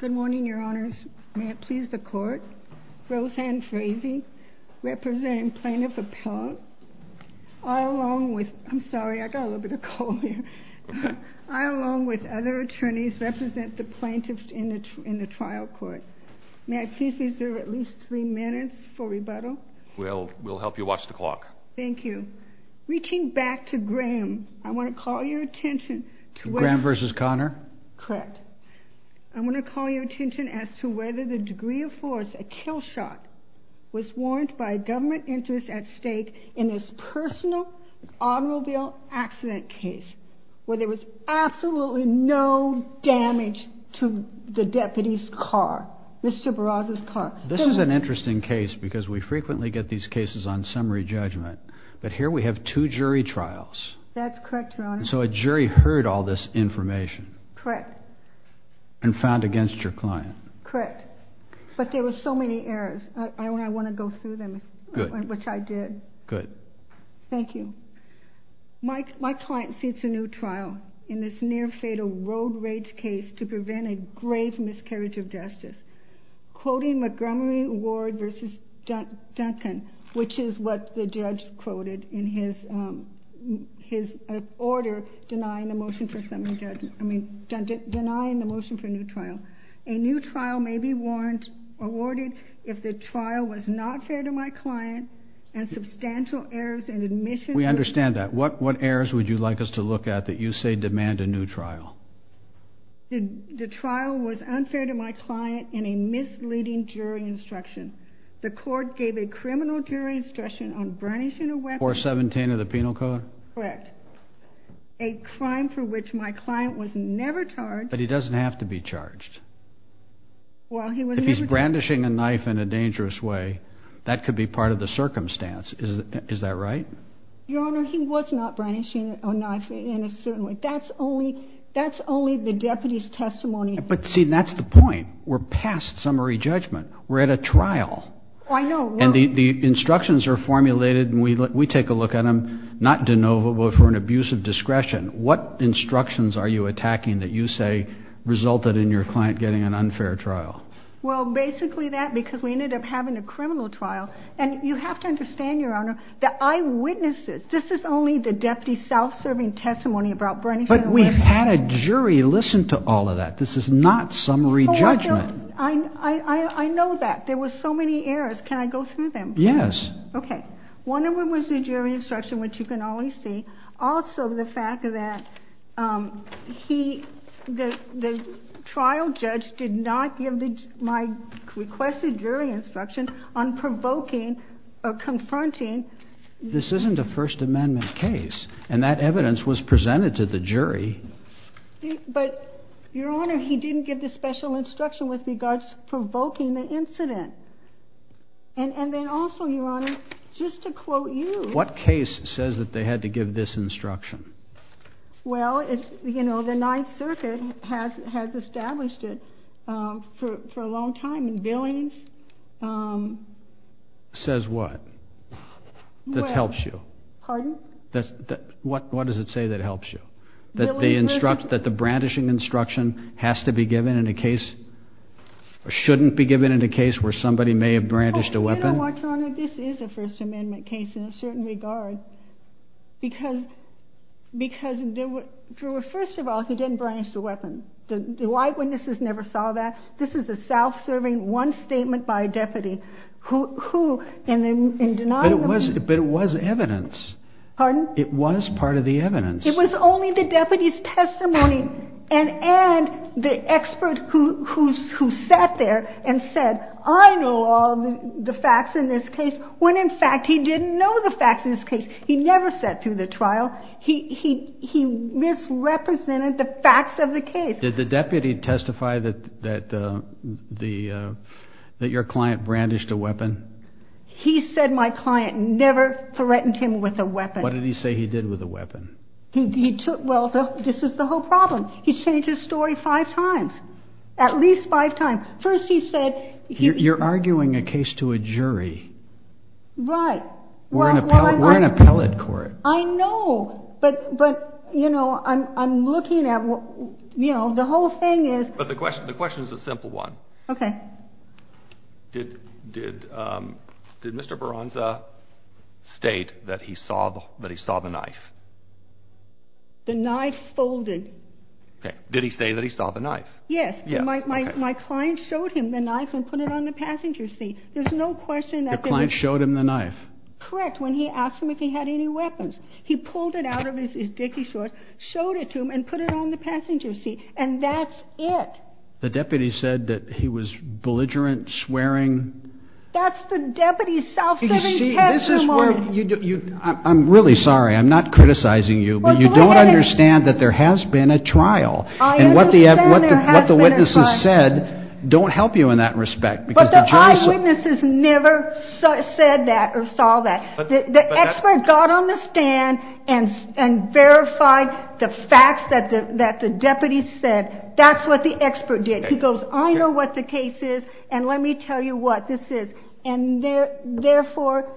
Good morning, your honors. May it please the court, Roseanne Frazee, representing plaintiff appellate, I along with, I'm sorry, I got a little bit of cold here, I along with other attorneys represent the plaintiff in the trial court. May I please reserve at least three minutes for rebuttal? We'll help you watch the clock. Thank you. Reaching back to Graham, I want to call your attention to Graham v. Connor? Correct. I want to call your attention as to whether the degree of force, a kill shot, was warranted by a government interest at stake in this personal automobile accident case where there was absolutely no damage to the deputy's car, Mr. Barraza's car. This is an interesting case because we frequently get these cases on summary judgment, but here we have two jury trials. That's correct, your honors. So a jury heard all this information. Correct. And found against your client. Correct. But there were so many errors, I want to go through them. Good. Which I did. Good. Thank you. My client sees a new trial in this near fatal road rage case to prevent a grave miscarriage of justice. Quoting Montgomery Ward v. Duncan, which is what the judge quoted in his order denying the motion for new trial. A new trial may be warranted if the trial was not fair to my client and substantial errors in admission. We understand that. What errors would you misleading jury instruction. The court gave a criminal jury instruction on brandishing a weapon. 417 of the penal code. Correct. A crime for which my client was never charged. But he doesn't have to be charged. Well, he was never charged. If he's brandishing a knife in a dangerous way, that could be part of the circumstance. Is that right? Your honor, he was not brandishing a knife in a certain way. That's only the deputy's testimony. But see, that's the point. We're past summary judgment. We're at a trial. And the instructions are formulated and we take a look at them, not de novo, but for an abuse of discretion. What instructions are you attacking that you say resulted in your client getting an unfair trial? Well, basically that because we ended up having a criminal trial. And you have to understand your honor, the eyewitnesses, this is only the deputy self-serving testimony about brandishing a weapon. But we've had a jury listen to all of that. This is not summary judgment. I know that. There was so many errors. Can I go through them? Yes. Okay. One of them was the jury instruction, which you can always see. Also, the fact that he, the trial judge did not give my requested jury instruction on provoking or confronting. This isn't a first amendment case. And that evidence was presented to the jury. But your honor, he didn't give the special instruction with regards provoking the incident. And then also your honor, just to quote you, what case says that they had to give this instruction? Well, it's, you know, the ninth circuit has, has established it, um, for, for a long time and villains, um, says what? That's helps you. Pardon? That's what, what does it say that helps you? That the instruct, that the brandishing instruction has to be given in a case or shouldn't be given in a case where somebody may have brandished a weapon. This is a first amendment case in a certain regard because, because Drew, first of all, he didn't brandish the weapon. The eyewitnesses never saw that. This is a self-serving one statement by a deputy who, who, and then in denial, but it was evidence. Pardon? It was part of the evidence. It was only the deputy's testimony and, and the expert who, who's, who sat there and said, I know all the facts in this case. When in fact, he didn't know the facts in this case. He never sat through the trial. He, he, he misrepresented the facts of the case. Did the deputy testify that, that, uh, the, uh, that your client brandished a weapon? He said my client never threatened him with a weapon. What did he say he did with a weapon? He took, well, this is the whole problem. He changed his story five times, at least five times. First, he said, you're arguing a case to a jury, right? We're in a pellet court. I know, but, but you know, I'm, I'm looking at, you know, the whole thing is, but the question, the question is a simple one. Okay. Did, did, um, did Mr. Baranza state that he saw the, that he saw the knife, the knife folded? Okay. Did he say that he saw the knife? Yes. My, my, my client showed him the knife and put it on the passenger seat. There's no question that the client showed him the knife. Correct. When he asked him if he had any weapons, he pulled it out of his Dickie short, showed it to him and put it on the passenger seat. And that's it. The deputy said that he was belligerent swearing. That's the deputy. I'm really sorry. I'm not criticizing you, but you don't understand that there has been a trial and what the, what the, what the witnesses said, don't help you in that respect. But the eyewitnesses never said that or saw that the expert got on the stand and, and verified the facts that the, that the deputy said, that's what the expert did. He goes, I know what the case is and let me tell you what this is. And therefore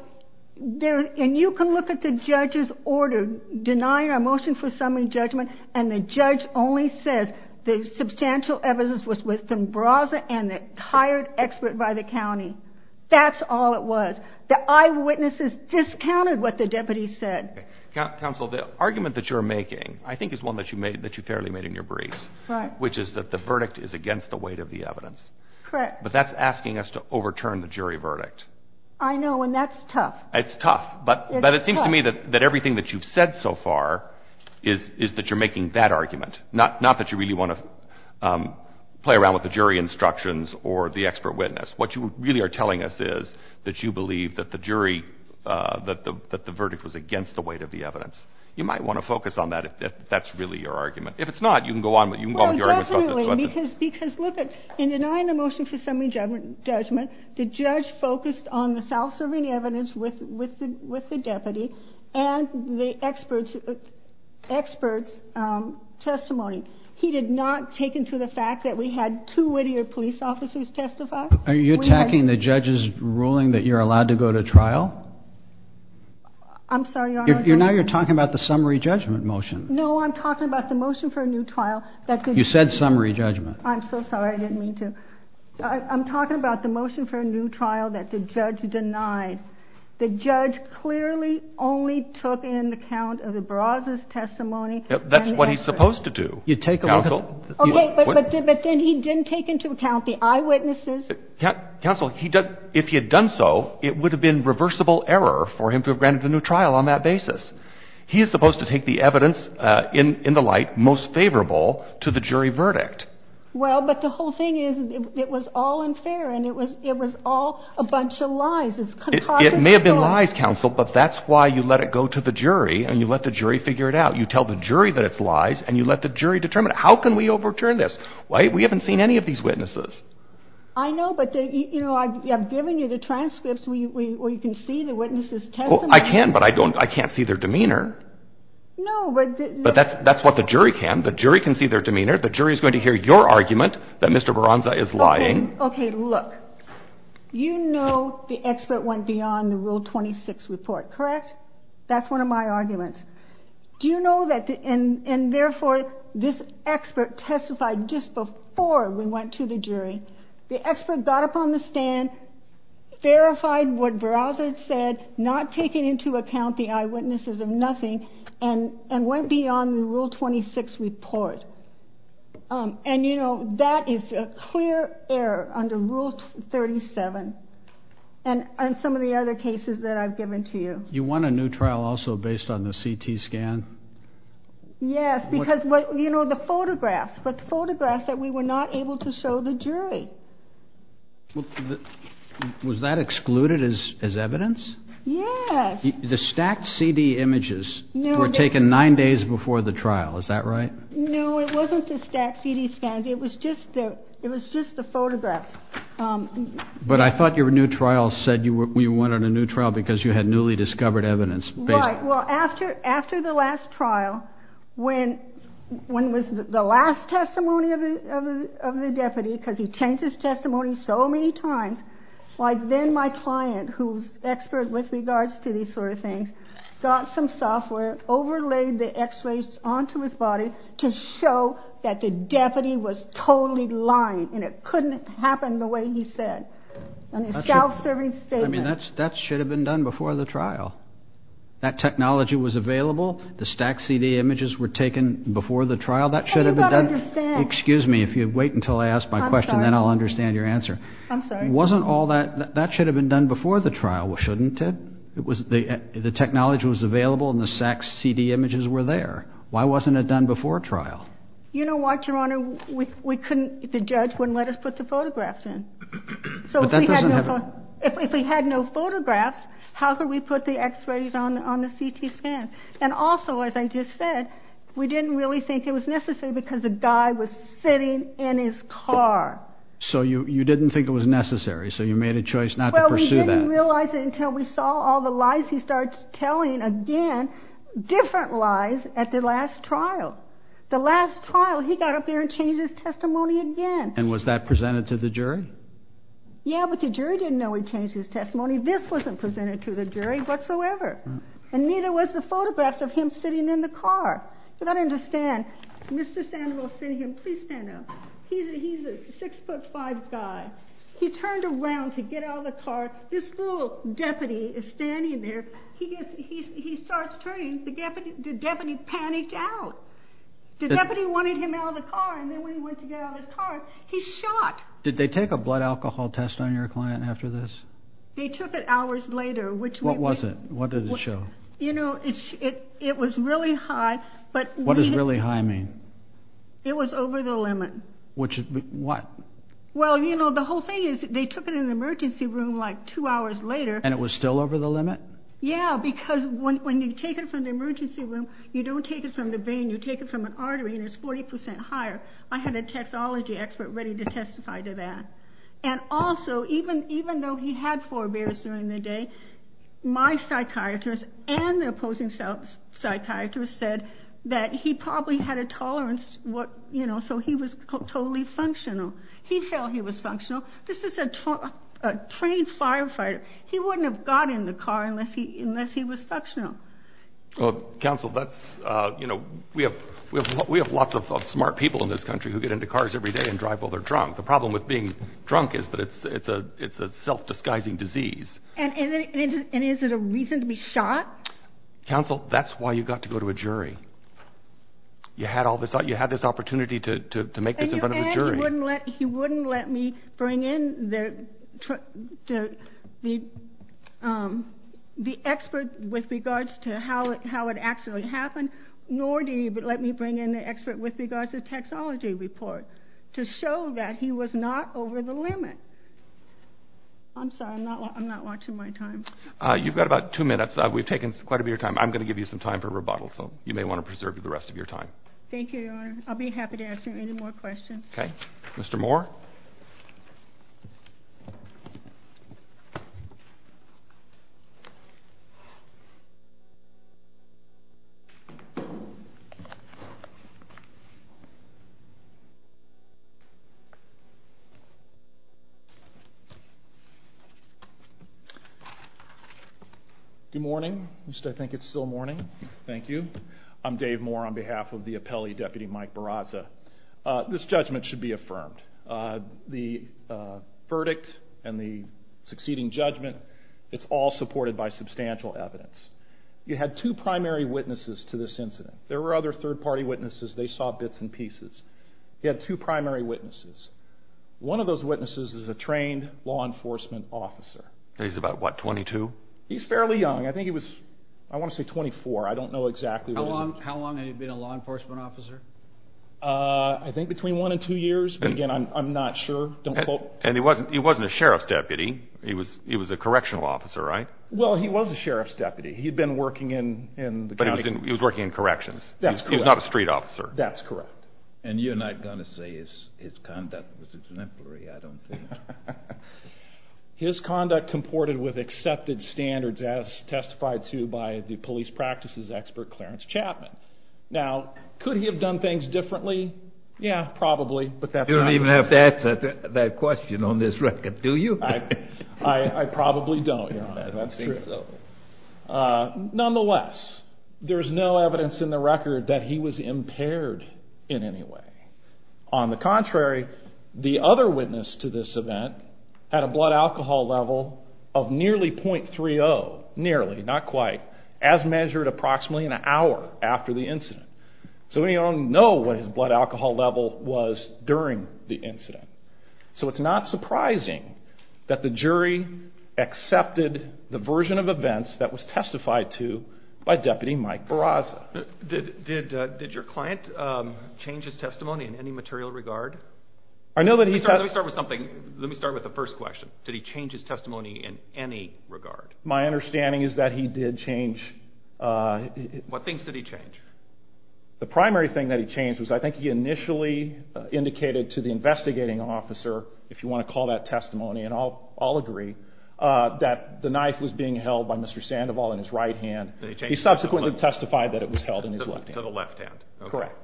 there, and you can look at the judge's order, deny our motion for summary judgment. And the judge only says the substantial evidence was with some browser and the hired expert by the County. That's all it was. The eyewitnesses discounted what the deputy said. Counsel, the argument that you're making, I think is one that you made that you fairly made in your brief, which is that the verdict is against the weight of the evidence, but that's asking us to overturn the jury verdict. I know. And that's tough. It's tough. But, but it seems to me that, that everything that you've said so far is, is that you're making that argument, not, not that you really want to play around with the jury instructions or the expert witness. What you really are telling us is that you believe that the jury, that the, that the verdict was against the weight of the evidence. You might want to focus on that. If that's really your argument, if it's not, you can go on, but you can go on with your argument. Because, because look at in denying the motion for summary judgment judgment, the judge focused on the self-serving evidence with, with, with the deputy and the experts, experts, um, testimony. He did not take into the fact that we had two Whittier police officers testify. Are you attacking the judge's ruling that you're allowed to go to trial? I'm sorry. You're now you're talking about the summary judgment motion. No, I'm talking about the motion for a new trial. You said summary judgment. I'm so sorry. I didn't mean to. I'm talking about the motion for a new trial that the judge denied. The judge clearly only took in the count of the Barraza's testimony. That's what he's supposed to do. You take a look. Okay. But then he didn't take into account the eyewitnesses. Counsel, he does. If he had done so, it would have been reversible error for him to have granted a new trial on that basis. He is supposed to take the evidence in the light, most favorable to the jury verdict. Well, but the whole thing is it was all unfair and it was, it was all a bunch of lies. It may have been lies counsel, but that's why you let it go to the jury and you let the jury figure it out. You tell the jury that it's lies and you let the jury determine how can we overturn this? Why we haven't seen any of these witnesses. I know, but you know, I've given you the transcripts where you can see the witnesses. I can, but I don't, I can't see their demeanor. No, but that's, that's what the jury can. The jury can see their demeanor. The jury is going to hear your argument that Mr. Barraza is lying. Okay. Look, you know, the expert went beyond the rule 26 report, correct? That's one of my arguments. Do you know that? And therefore this expert testified just before we went to the jury, the expert got up on the stand, verified what Barraza said, not taking into account the eyewitnesses of nothing and, and went beyond the rule 26 report. Um, and you know, that is a clear error under rule 37 and, and some of the other cases that I've given to you. You want a new trial also based on the CT scan? Yes, because what, you know, the photographs, but photographs that we were not able to show the jury. Well, was that excluded as, as evidence? Yes. The stacked CD images were taken nine days before the trial. Is that right? No, it wasn't the stacked CD scans. It was just the, it was just the photographs. Um, but I thought your new trial said you were, you went on a new trial because you had newly discovered evidence. Well, after, after the last trial, when, when was the last testimony of the, of the, of the deputy? Cause he changed his testimony so many times. Like then my client who's expert with regards to these sort of things, got some software, overlaid the x-rays onto his body to show that the deputy was totally lying and it couldn't happen the way he said. And it's self-serving statement. I mean, that's, that should have been done before the trial. That technology was available. The stacked CD images were taken before the trial. That should have been done. Excuse me, if you'd wait until I asked my question, then I'll understand your answer. Wasn't all that, that should have been done before the trial. Well, shouldn't it? It was the, the technology was available and the stacked CD images were there. Why wasn't it done before trial? You know what, your honor, we couldn't, the judge wouldn't let us put the photographs in. So if we had no photographs, how could we put the x-rays on, on the CT scan? And also, as I just said, we didn't really think it was necessary because the guy was sitting in his car. So you, you didn't think it was necessary. So you made a choice not to pursue that. Well, we didn't realize it until we saw all the lies he starts telling again, different lies at the last trial. The last trial, he got up there and changed his testimony again. And was that presented to the jury? Yeah, but the jury didn't know he changed his testimony. This wasn't presented to the jury whatsoever. And neither was the photographs of him sitting in the car. So that I understand, Mr. Sandoval sent him, please stand up. He's a, he's a six foot five guy. He turned around to get out of the car. This little deputy is standing there. He gets, he, he starts turning the deputy, the deputy panicked out. The deputy wanted him out of the car. And then when he went to get out of the car, he shot. Did they take a blood alcohol test on your client after this? They took it hours later. What was it? What did it show? You know, it's, it, it was really high, but what does really high mean? It was over the limit. Which is what? Well, you know, the whole thing is they took it in an emergency room, like two hours later. And it was still over the limit? Yeah. Because when, when you take it from the emergency room, you don't take it from the vein, you take it from an artery and it's 40% higher. I had a taxology expert ready to testify to that. And also, even, even though he had forebears during the day, my psychiatrist and the opposing psychiatrist said that he probably had a tolerance. What, you know, so he was totally functional. He felt he was functional. This is a trained firefighter. He wouldn't have got in the car unless he was functional. Well, counsel, that's, you know, we have, we have, we have lots of smart people in this country who get into cars every day and drive while they're drunk. The problem with being drunk is that it's, it's a, it's a self-disguising disease. And is it a reason to be shot? Counsel, that's why you got to go to a jury. You had all this, you had this opportunity to, to, to make this in front of a jury. And you add, he wouldn't let, he wouldn't let me bring in the, the, um, the expert with regards to how, how it actually happened, nor did he let me bring in the expert with regards to the taxology report to show that he was not over the limit. I'm sorry, I'm not, I'm not watching my time. Uh, you've got about two minutes. Uh, we've taken quite a bit of your time. I'm going to give you some time for rebuttal, so you may want to preserve the rest of your time. Thank you, Your Honor. I'll be happy to answer any more questions. Okay. Mr. Moore. Good morning. I think it's still morning. Thank you. I'm Dave Moore on behalf of the Mike Barraza. Uh, this judgment should be affirmed. Uh, the, uh, verdict and the succeeding judgment, it's all supported by substantial evidence. You had two primary witnesses to this incident. There were other third party witnesses. They saw bits and pieces. He had two primary witnesses. One of those witnesses is a trained law enforcement officer. And he's about what, 22? He's fairly young. I think he was, I want to say 24. I don't know how long he'd been a law enforcement officer. Uh, I think between one and two years, but again, I'm, I'm not sure. And he wasn't, he wasn't a sheriff's deputy. He was, he was a correctional officer, right? Well, he was a sheriff's deputy. He'd been working in, in the county. He was working in corrections. He's not a street officer. That's correct. And you're not going to say his, his conduct was exemplary, I don't think. His conduct comported with accepted standards as testified to by the police practices expert, Clarence Chapman. Now, could he have done things differently? Yeah, probably, but that's not. You don't even have to answer that question on this record, do you? I, I probably don't. I don't think so. Uh, nonetheless, there's no evidence in the record that he was impaired in any way. On the contrary, the other witness to this event had a blood alcohol level of nearly 0.30, nearly, not quite, as measured approximately in an hour after the incident. So we don't know what his blood alcohol level was during the incident. So it's not surprising that the jury accepted the version of events that was testified to by deputy Mike Barraza. Did, did, uh, did your client, um, change his testimony in any material regard? I know that he... Let me start with something. Let me start with the first question. Did he change his testimony in any regard? My understanding is that he did change, uh... What things did he change? The primary thing that he changed was, I think he initially indicated to the investigating officer, if you want to call that testimony, and I'll, I'll agree, uh, that the knife was being held by Mr. Sandoval in his right hand. He subsequently testified that it was held in his left hand. To the left hand. Correct.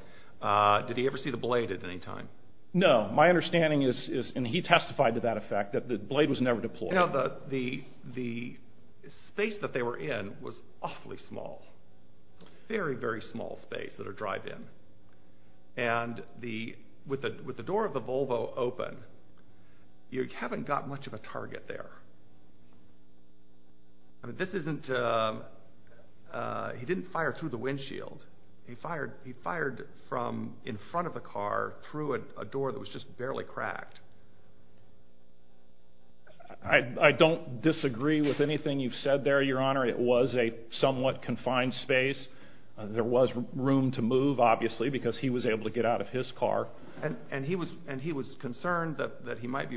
Uh, did he ever see the blade at any time? No. My understanding is, is, and he testified to that effect, that the blade was never deployed. You know, the, the, the space that they were in was awfully small. Very, very small space that a drive in. And the, with the, with the door of the Volvo open, you haven't got much of a target there. I mean, this isn't, uh, uh, he didn't fire through the windshield. He fired, he fired from in front of the car through a door that was just barely cracked. I, I don't disagree with anything you've said there, Your Honor. It was a somewhat confined space. There was room to move, obviously, because he was able to get out of his car. And, and he was, and he was concerned that, that he might be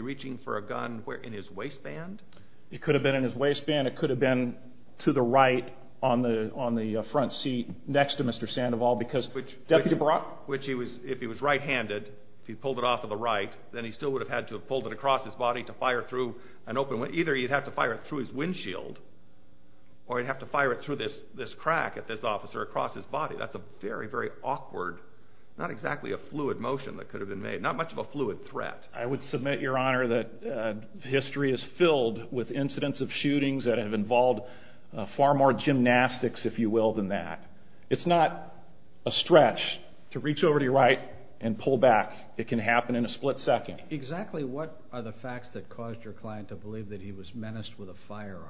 it could have been in his waistband. It could have been to the right on the, on the front seat next to Mr. Sandoval, because which Deputy Brock, which he was, if he was right-handed, if he pulled it off of the right, then he still would have had to have pulled it across his body to fire through an open one. Either he'd have to fire it through his windshield, or he'd have to fire it through this, this crack at this officer across his body. That's a very, very awkward, not exactly a fluid motion that could have been made. Not much of a fluid threat. I would submit, Your Honor, that history is filled with incidents of shootings that have involved far more gymnastics, if you will, than that. It's not a stretch to reach over to your right and pull back. It can happen in a split second. Exactly what are the facts that caused your client to believe that he was menaced with a firearm?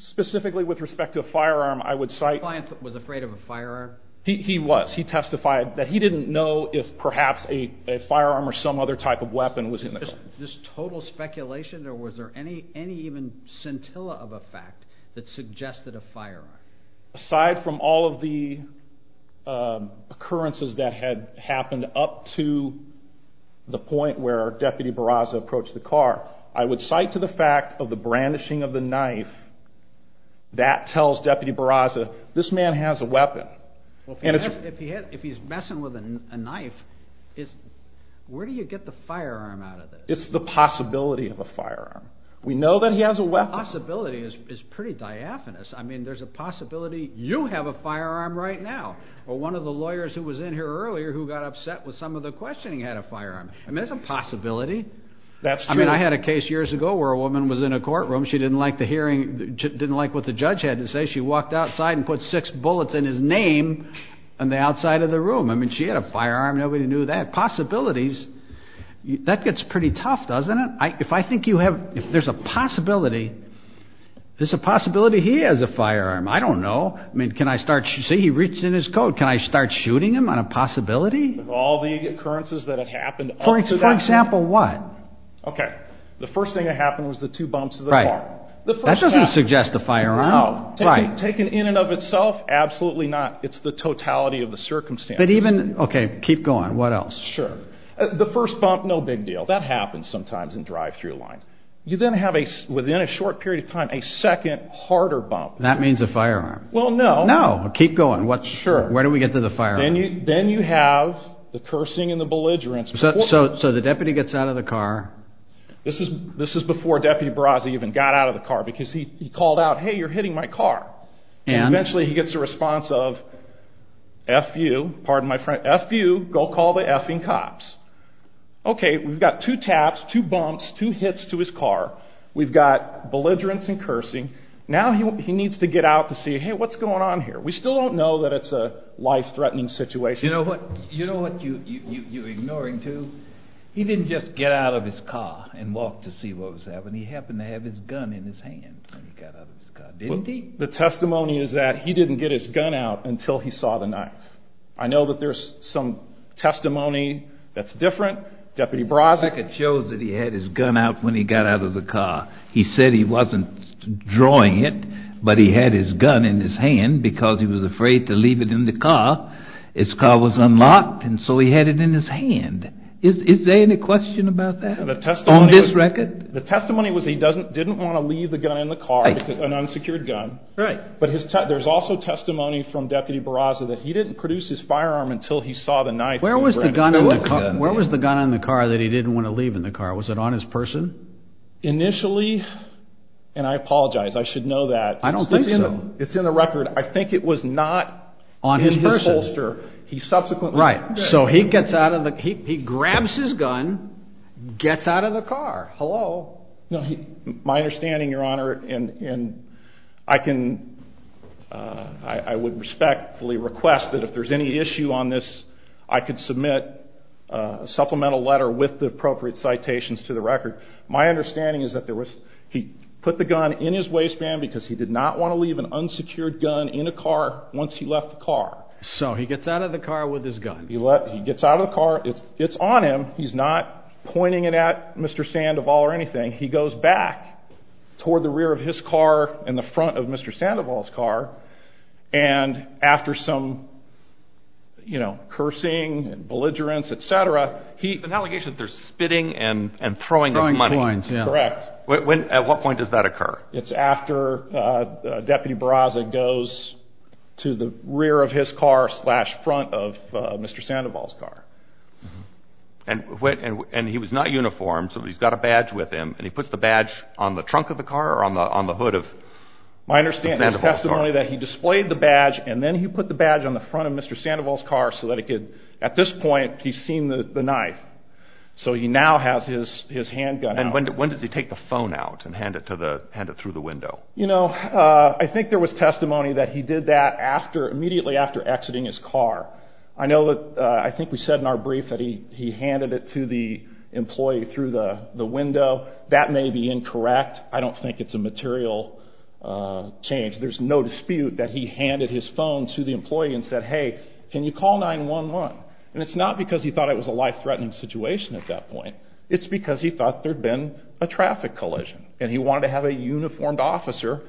Specifically with respect to a firearm, I would cite... The client was afraid of a firearm? He, he was. He testified that he didn't know if perhaps a firearm or some other type of weapon was in the car. Just total speculation, or was there any, any even scintilla of a fact that suggested a firearm? Aside from all of the occurrences that had happened up to the point where Deputy Barraza approached the car, I would cite to the fact of the brandishing of the knife that tells Deputy Barraza, this man has a weapon. If he's messing with a knife, where do you get the firearm out of this? It's the possibility of a firearm. We know that he has a weapon. The possibility is pretty diaphanous. I mean, there's a possibility you have a firearm right now, or one of the lawyers who was in here earlier who got upset with some of the questioning had a firearm. I mean, there's a possibility. That's true. I mean, I had a case years ago where a woman was in a courtroom. She didn't like the hearing. She didn't like what the judge had to say. She walked outside and put six bullets in his name on the outside of the room. I mean, she had a firearm. Nobody knew that. Possibilities. That gets pretty tough, doesn't it? If I think you have, if there's a possibility, there's a possibility he has a firearm. I don't know. I mean, can I start, see, he reached in his coat. Can I start shooting him on a possibility? All the occurrences that have happened? For example, what? Okay. The first thing that happened was the two bumps of the car. That doesn't suggest the firearm. Taken in and of itself, absolutely not. It's the totality of the circumstances. But even, okay, keep going. What else? Sure. The first bump, no big deal. That happens sometimes in drive-thru lines. You then have a, within a short period of time, a second harder bump. That means a firearm. Well, no. No. Keep going. What's, where do we get to the firearm? Then you have the cursing and the belligerence. So the deputy gets out of the car. This is before Deputy Barraza even got out of the car because he called out, hey, you're hitting my car. And eventually he gets a response of, F you, pardon my French, F you, go call the effing cops. Okay. We've got two taps, two bumps, two hits to his car. We've got belligerence and cursing. Now he needs to get out to see, hey, what's going on here? We still don't know that it's a life-threatening situation. You know what you're ignoring too? He didn't just get out of his car and walk to see what was happening. He happened to have his gun in his hand when he got out of his car, didn't he? The testimony is that he didn't get his gun out until he saw the knife. I know that there's some testimony that's different. Deputy Barraza. It shows that he had his gun out when he got out of the car. He said he wasn't drawing it, but he had his gun in his hand because he was afraid to leave it in the car. His car was unlocked, and so he had it in his hand. Is there any question about that on this record? The testimony was he didn't want to leave the gun in the car, an unsecured gun. Right. But there's also testimony from Deputy Barraza that he didn't produce his firearm until he saw the knife. Where was the gun in the car that he didn't want to leave in the car? Was it on his person? Initially, and I apologize, I should know that. I don't think so. It's in the record. I think it was not in his holster. He subsequently... Right. So he grabs his gun, gets out of the car. Hello? My understanding, Your Honor, and I would respectfully request that if there's any issue on this, I could submit a supplemental letter with the appropriate citations to the record. My understanding is that he put the gun in his waistband because he did not want to leave an So he gets out of the car with his gun. He gets out of the car. It's on him. He's not pointing it at Mr. Sandoval or anything. He goes back toward the rear of his car and the front of Mr. Sandoval's car. And after some cursing, belligerence, et cetera, he... An allegation that they're spitting and throwing money. Throwing coins, yeah. Correct. At what point does that occur? It's after Deputy Barraza goes to the rear of his car slash front of Mr. Sandoval's car. And he was not uniformed, so he's got a badge with him, and he puts the badge on the trunk of the car or on the hood of Mr. Sandoval's car? My understanding is testimony that he displayed the badge, and then he put the badge on the front of Mr. Sandoval's car so that it could... At this point, he's seen the knife. So he now has his handgun out. When does he take the phone out and hand it through the window? I think there was testimony that he did that immediately after exiting his car. I think we said in our brief that he handed it to the employee through the window. That may be incorrect. I don't think it's a material change. There's no dispute that he handed his phone to the employee and said, hey, can you call 911? And it's not because he thought it was a life-threatening situation at that point. It's because he thought there'd been a traffic collision, and he wanted to have a uniformed officer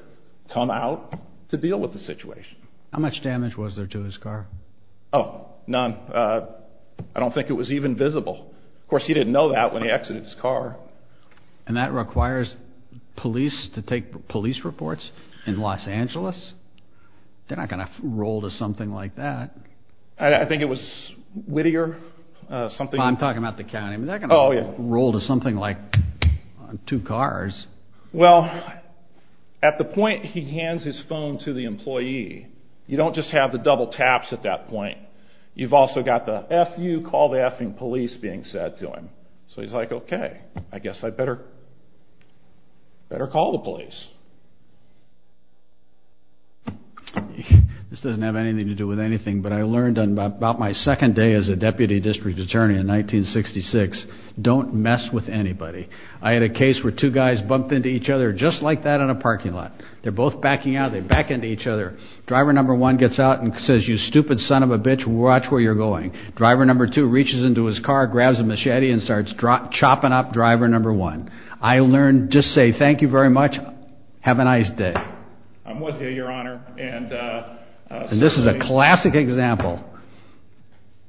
come out to deal with the situation. How much damage was there to his car? Oh, none. I don't think it was even visible. Of course, he didn't know that when he exited his car. And that requires police to take police reports in Los Angeles? They're not going to roll to something like that. I think it was Whittier, something... I'm talking about the county. They're not going to roll to something like two cars. Well, at the point he hands his phone to the employee, you don't just have the double taps at that point. You've also got the F you, call the effing police being said to him. So he's like, okay, I guess I better call the police. This doesn't have anything to do with anything, but I learned on about my second day as a driver in 1966, don't mess with anybody. I had a case where two guys bumped into each other just like that in a parking lot. They're both backing out. They back into each other. Driver number one gets out and says, you stupid son of a bitch, watch where you're going. Driver number two reaches into his car, grabs a machete and starts chopping up driver number one. I learned just say, thank you very much. Have a nice day. I'm with you, your honor. This is a classic example.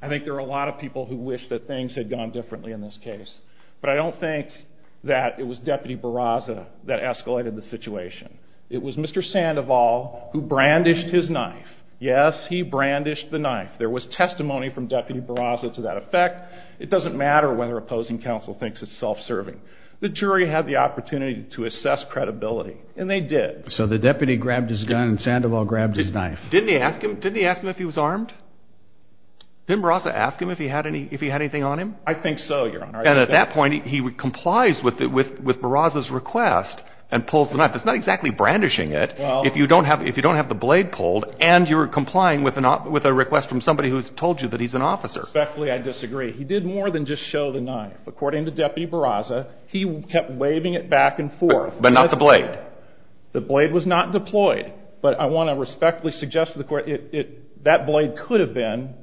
I think there are a lot of people who wish that things had gone differently in this case, but I don't think that it was deputy Barraza that escalated the situation. It was Mr. Sandoval who brandished his knife. Yes, he brandished the knife. There was testimony from deputy Barraza to that effect. It doesn't matter whether opposing counsel thinks it's self-serving. The jury had the opportunity to assess credibility and they did. So the deputy grabbed his gun and Sandoval grabbed his knife. Didn't he ask him if he was armed? Didn't Barraza ask him if he had anything on him? I think so, your honor. And at that point, he complies with Barraza's request and pulls the knife. It's not exactly brandishing it if you don't have the blade pulled and you're complying with a request from somebody who's told you that he's an officer. Respectfully, I disagree. He did more than just show the knife. According to deputy Barraza, he kept waving it back and forth. But not the blade. The blade was not deployed. But I want to respectfully suggest to the court, that blade could have been,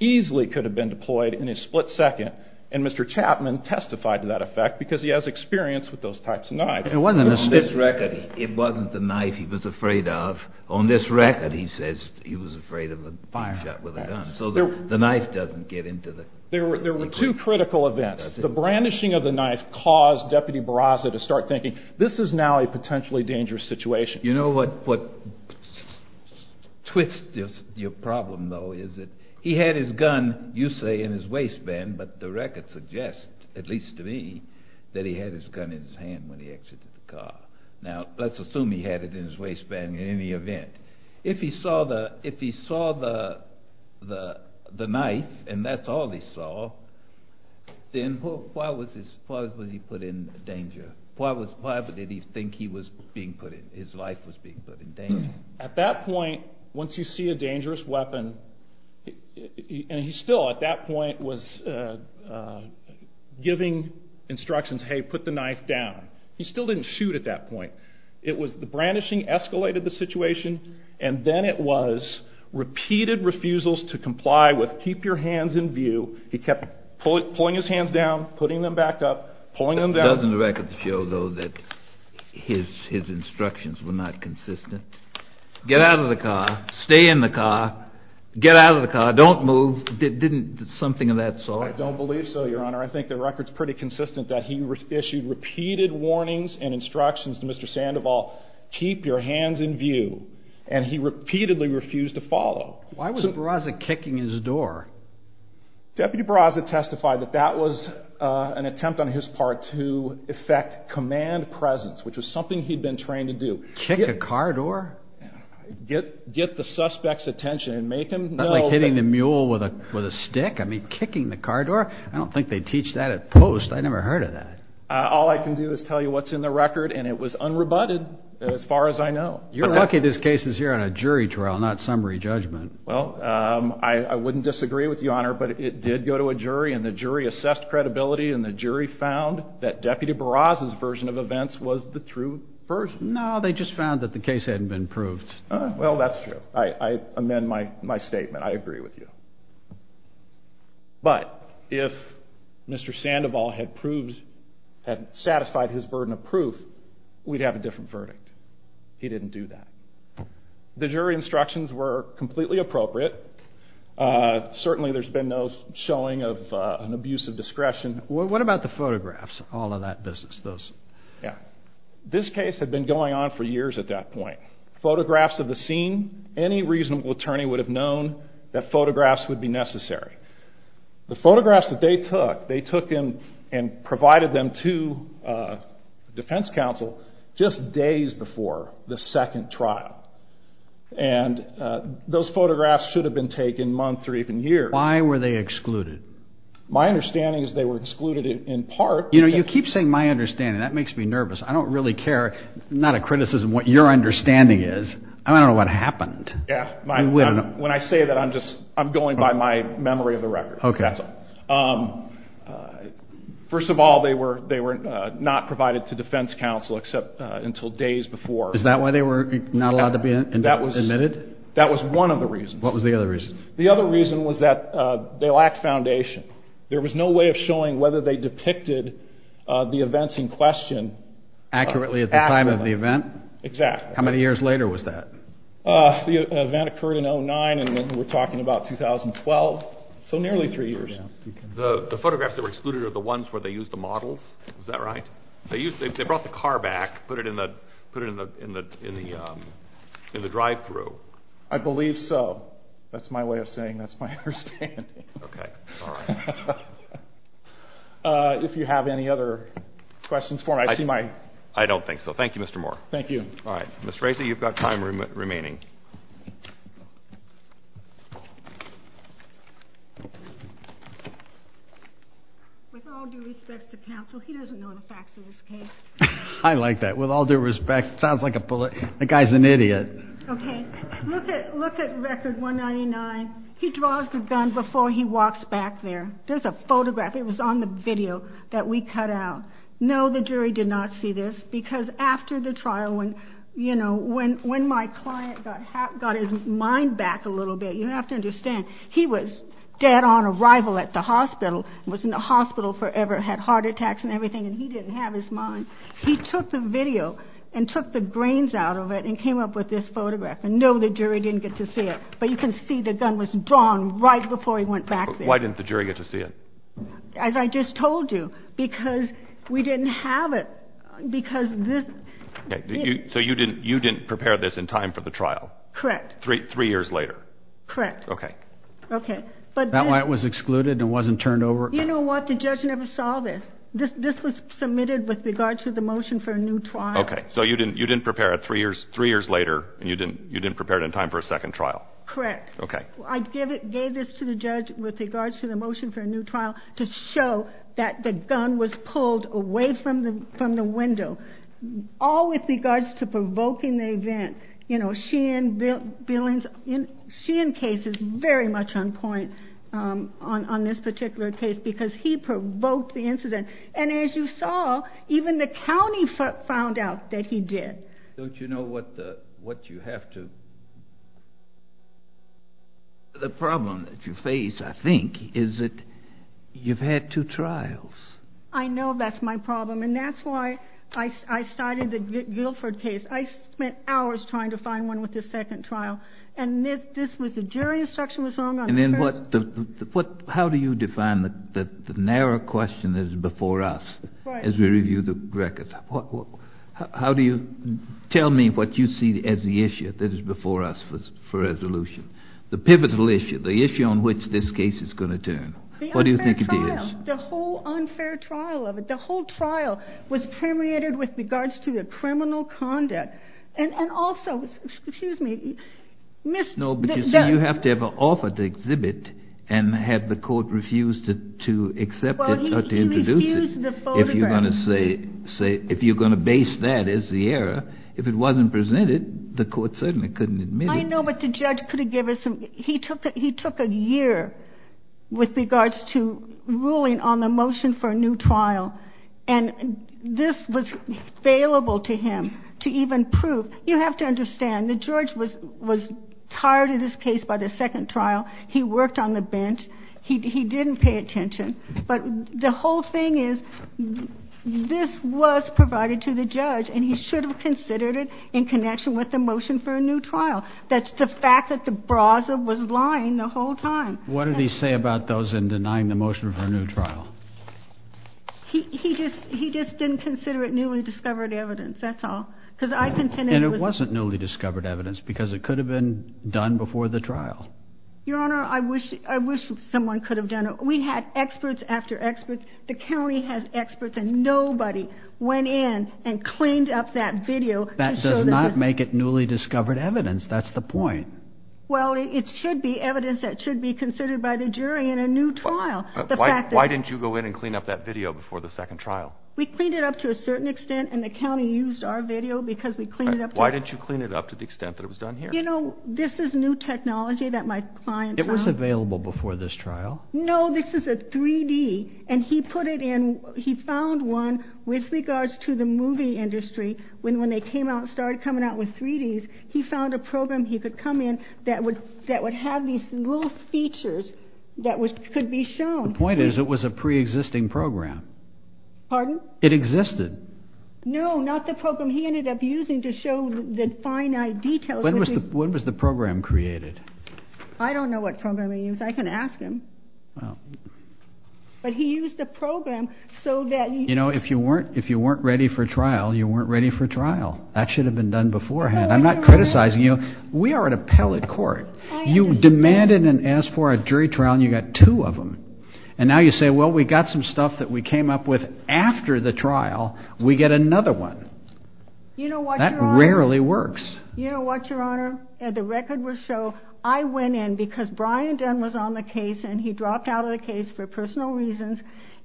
easily could have been deployed in a split second. And Mr. Chapman testified to that effect because he has experience with those types of knives. It wasn't the knife he was afraid of. On this record, he says he was afraid of being shot with a gun. So the knife doesn't get into the... There were two critical events. The brandishing of the knife caused deputy Barraza to start thinking, this is now a potentially dangerous situation. You know what twists your problem though? Is that he had his gun, you say in his waistband, but the record suggests, at least to me, that he had his gun in his hand when he exited the car. Now let's assume he had it in his waistband in any event. If he saw the knife and that's all he saw, then why was he put in danger? Why did he think he was being put in, his life was being put in danger? At that point, once you see a dangerous weapon, and he still at that point was giving instructions, hey, put the knife down. He still didn't shoot at that point. It was the brandishing escalated the situation. And then it was repeated refusals to comply with, keep your hands in view. He kept pulling his hands down, putting them back up, pulling them down. Doesn't the record show though that his instructions were not consistent? Get out of the car, stay in the car, get out of the car, don't move. Something of that sort? I don't believe so, your honor. I think the record's pretty consistent that he issued repeated warnings and instructions to Mr. Sandoval, keep your hands in view. And he repeatedly refused to follow. Why was Barraza kicking his door? Deputy Barraza testified that that was an attempt on his part to effect command presence, which was something he'd been trained to do. Kick a car door? Get the suspect's attention and make him know. Like hitting the mule with a stick? I mean, kicking the car door? I don't think they teach that at post. I never heard of that. All I can do is tell you what's in the record. And it was unrebutted as far as I know. You're lucky this case is here on a jury trial, not summary judgment. Well, I wouldn't disagree with you, your honor. But it did go to a jury. And the jury assessed credibility. And the jury found that Deputy Barraza's version of events was the true version. No, they just found that the case hadn't been proved. Well, that's true. I amend my statement. I agree with you. But if Mr. Sandoval had satisfied his burden of proof, we'd have a different verdict. He didn't do that. The jury instructions were completely appropriate. Certainly, there's been no showing of an abuse of discretion. What about the photographs? All of that business? Yeah. This case had been going on for years at that point. Photographs of the scene. Any reasonable attorney would have known that photographs would be necessary. The photographs that they took, they took and provided them to defense counsel just days before the second trial. And those photographs should have been taken months or even years. Why were they excluded? My understanding is they were excluded in part. You know, you keep saying my understanding. That makes me nervous. I don't really care. Not a criticism of what your understanding is. I don't know what happened. When I say that, I'm going by my memory of the record. Okay. First of all, they were not provided to defense counsel except until days before. Is that why they were not allowed to be admitted? That was one of the reasons. What was the other reason? The other reason was that they lacked foundation. There was no way of showing whether they depicted the events in question. Accurately at the time of the event? Exactly. How many years later was that? The event occurred in 2009, and then we're talking about 2012. So nearly three years. The photographs that were excluded are the ones where they used the models? Is that right? They brought the car back, put it in the drive-through. I believe so. That's my way of saying that's my understanding. Okay. If you have any other questions for me, I see my... I don't think so. Thank you, Mr. Moore. Thank you. All right, Ms. Racy, you've got time remaining. With all due respect to counsel, he doesn't know the facts of this case. I like that. With all due respect. Sounds like a bully. The guy's an idiot. Okay, look at record 199. He draws the gun before he walks back there. There's a photograph. It was on the video that we cut out. No, the jury did not see this. Because after the trial, when my client got his mind back a little bit, you have to understand, he was dead on arrival at the hospital, was in the hospital forever, had heart attacks and everything, and he didn't have his mind. He took the video and took the grains out of it and came up with this photograph. And no, the jury didn't get to see it. But you can see the gun was drawn right before he went back there. Why didn't the jury get to see it? As I just told you, because we didn't have it. Because this. So you didn't prepare this in time for the trial? Correct. Three years later? Correct. Okay. Okay. That's why it was excluded and wasn't turned over? You know what? The judge never saw this. This was submitted with regard to the motion for a new trial. Okay. So you didn't prepare it three years later and you didn't prepare it in time for a second trial? Correct. Okay. I gave this to the judge with regards to the motion for a new trial to show that the gun was pulled away from the window, all with regards to provoking the event. You know, Sheehan case is very much on point on this particular case because he provoked the incident. And as you saw, even the county found out that he did. Don't you know what you have to... The problem that you face, I think, is that you've had two trials. I know that's my problem. And that's why I started the Guilford case. I spent hours trying to find one with the second trial. And this was a jury instruction was on... And then how do you define the narrow question that is before us as we review the records? How do you... Tell me what you see as the issue that is before us for resolution. The pivotal issue, the issue on which this case is going to turn. What do you think it is? The whole unfair trial of it. The whole trial was permeated with regards to the criminal conduct. And also, excuse me, missed... No, but you see, you have to have an offer to exhibit and have the court refuse to accept it. Well, he refused the photograph. If you're going to base that as the error, if it wasn't presented, the court certainly couldn't admit it. I know, but the judge could have given some... He took a year with regards to ruling on the motion for a new trial. And this was failable to him to even prove. You have to understand that George was tired of this case by the second trial. He worked on the bench. He didn't pay attention. But the whole thing is, this was provided to the judge and he should have considered it in connection with the motion for a new trial. That's the fact that the browser was lying the whole time. What did he say about those in denying the motion for a new trial? He just didn't consider it newly discovered evidence, that's all. Because I contended it was... And it wasn't newly discovered evidence because it could have been done before the trial. Your Honor, I wish someone could have done it. We had experts after experts. The county has experts and nobody went in and cleaned up that video. That does not make it newly discovered evidence. That's the point. Well, it should be evidence that should be considered by the jury in a new trial. Why didn't you go in and clean up that video before the second trial? We cleaned it up to a certain extent and the county used our video because we cleaned it up. Why didn't you clean it up to the extent that it was done here? You know, this is new technology that my client... It was available before this trial? No, this is a 3D and he put it in, he found one with regards to the movie industry. When they came out, started coming out with 3Ds, he found a program he could come in that would have these little features that could be shown. The point is it was a pre-existing program. Pardon? It existed. No, not the program he ended up using to show the finite details. When was the program created? I don't know what program he used. I can ask him. Well... But he used a program so that... You know, if you weren't ready for trial, you weren't ready for trial. That should have been done beforehand. I'm not criticizing you. We are an appellate court. You demanded and asked for a jury trial and you got two of them. And now you say, well, we got some stuff that we came up with after the trial. We get another one. You know what, Your Honor? That rarely works. You know what, Your Honor? The record will show I went in because Brian Dunn was on the case, and he dropped out of the case for personal reasons.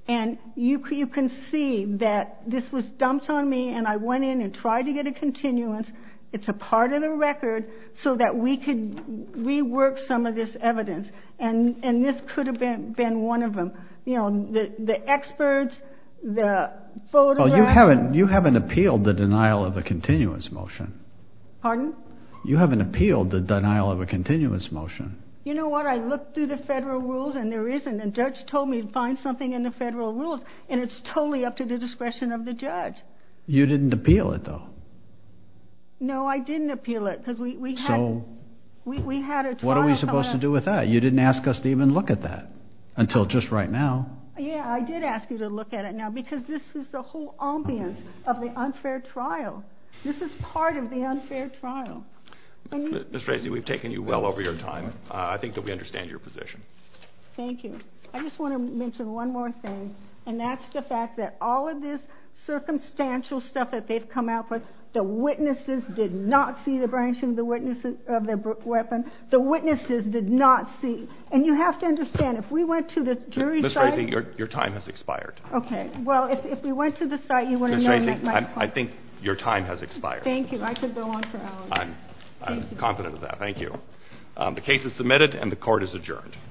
And you can see that this was dumped on me. And I went in and tried to get a continuance. It's a part of the record so that we could rework some of this evidence. And this could have been one of them. You know, the experts, the photograph... Well, you haven't appealed the denial of the continuance motion. Pardon? You haven't appealed the denial of a continuance motion. You know what? I looked through the federal rules and there isn't. The judge told me to find something in the federal rules, and it's totally up to the discretion of the judge. You didn't appeal it, though. No, I didn't appeal it because we had a trial... What are we supposed to do with that? You didn't ask us to even look at that until just right now. Yeah, I did ask you to look at it now because this is the whole ambience of the unfair trial. This is part of the unfair trial. Ms. Frasey, we've taken you well over your time. I think that we understand your position. Thank you. I just want to mention one more thing, and that's the fact that all of this circumstantial stuff that they've come out with, the witnesses did not see the branch of the weapon. The witnesses did not see... And you have to understand, if we went to the jury site... Ms. Frasey, your time has expired. Okay. Well, if we went to the site, you want to know... I think your time has expired. Thank you. I could go on for hours. I'm confident of that. Thank you. The case is submitted and the court is adjourned.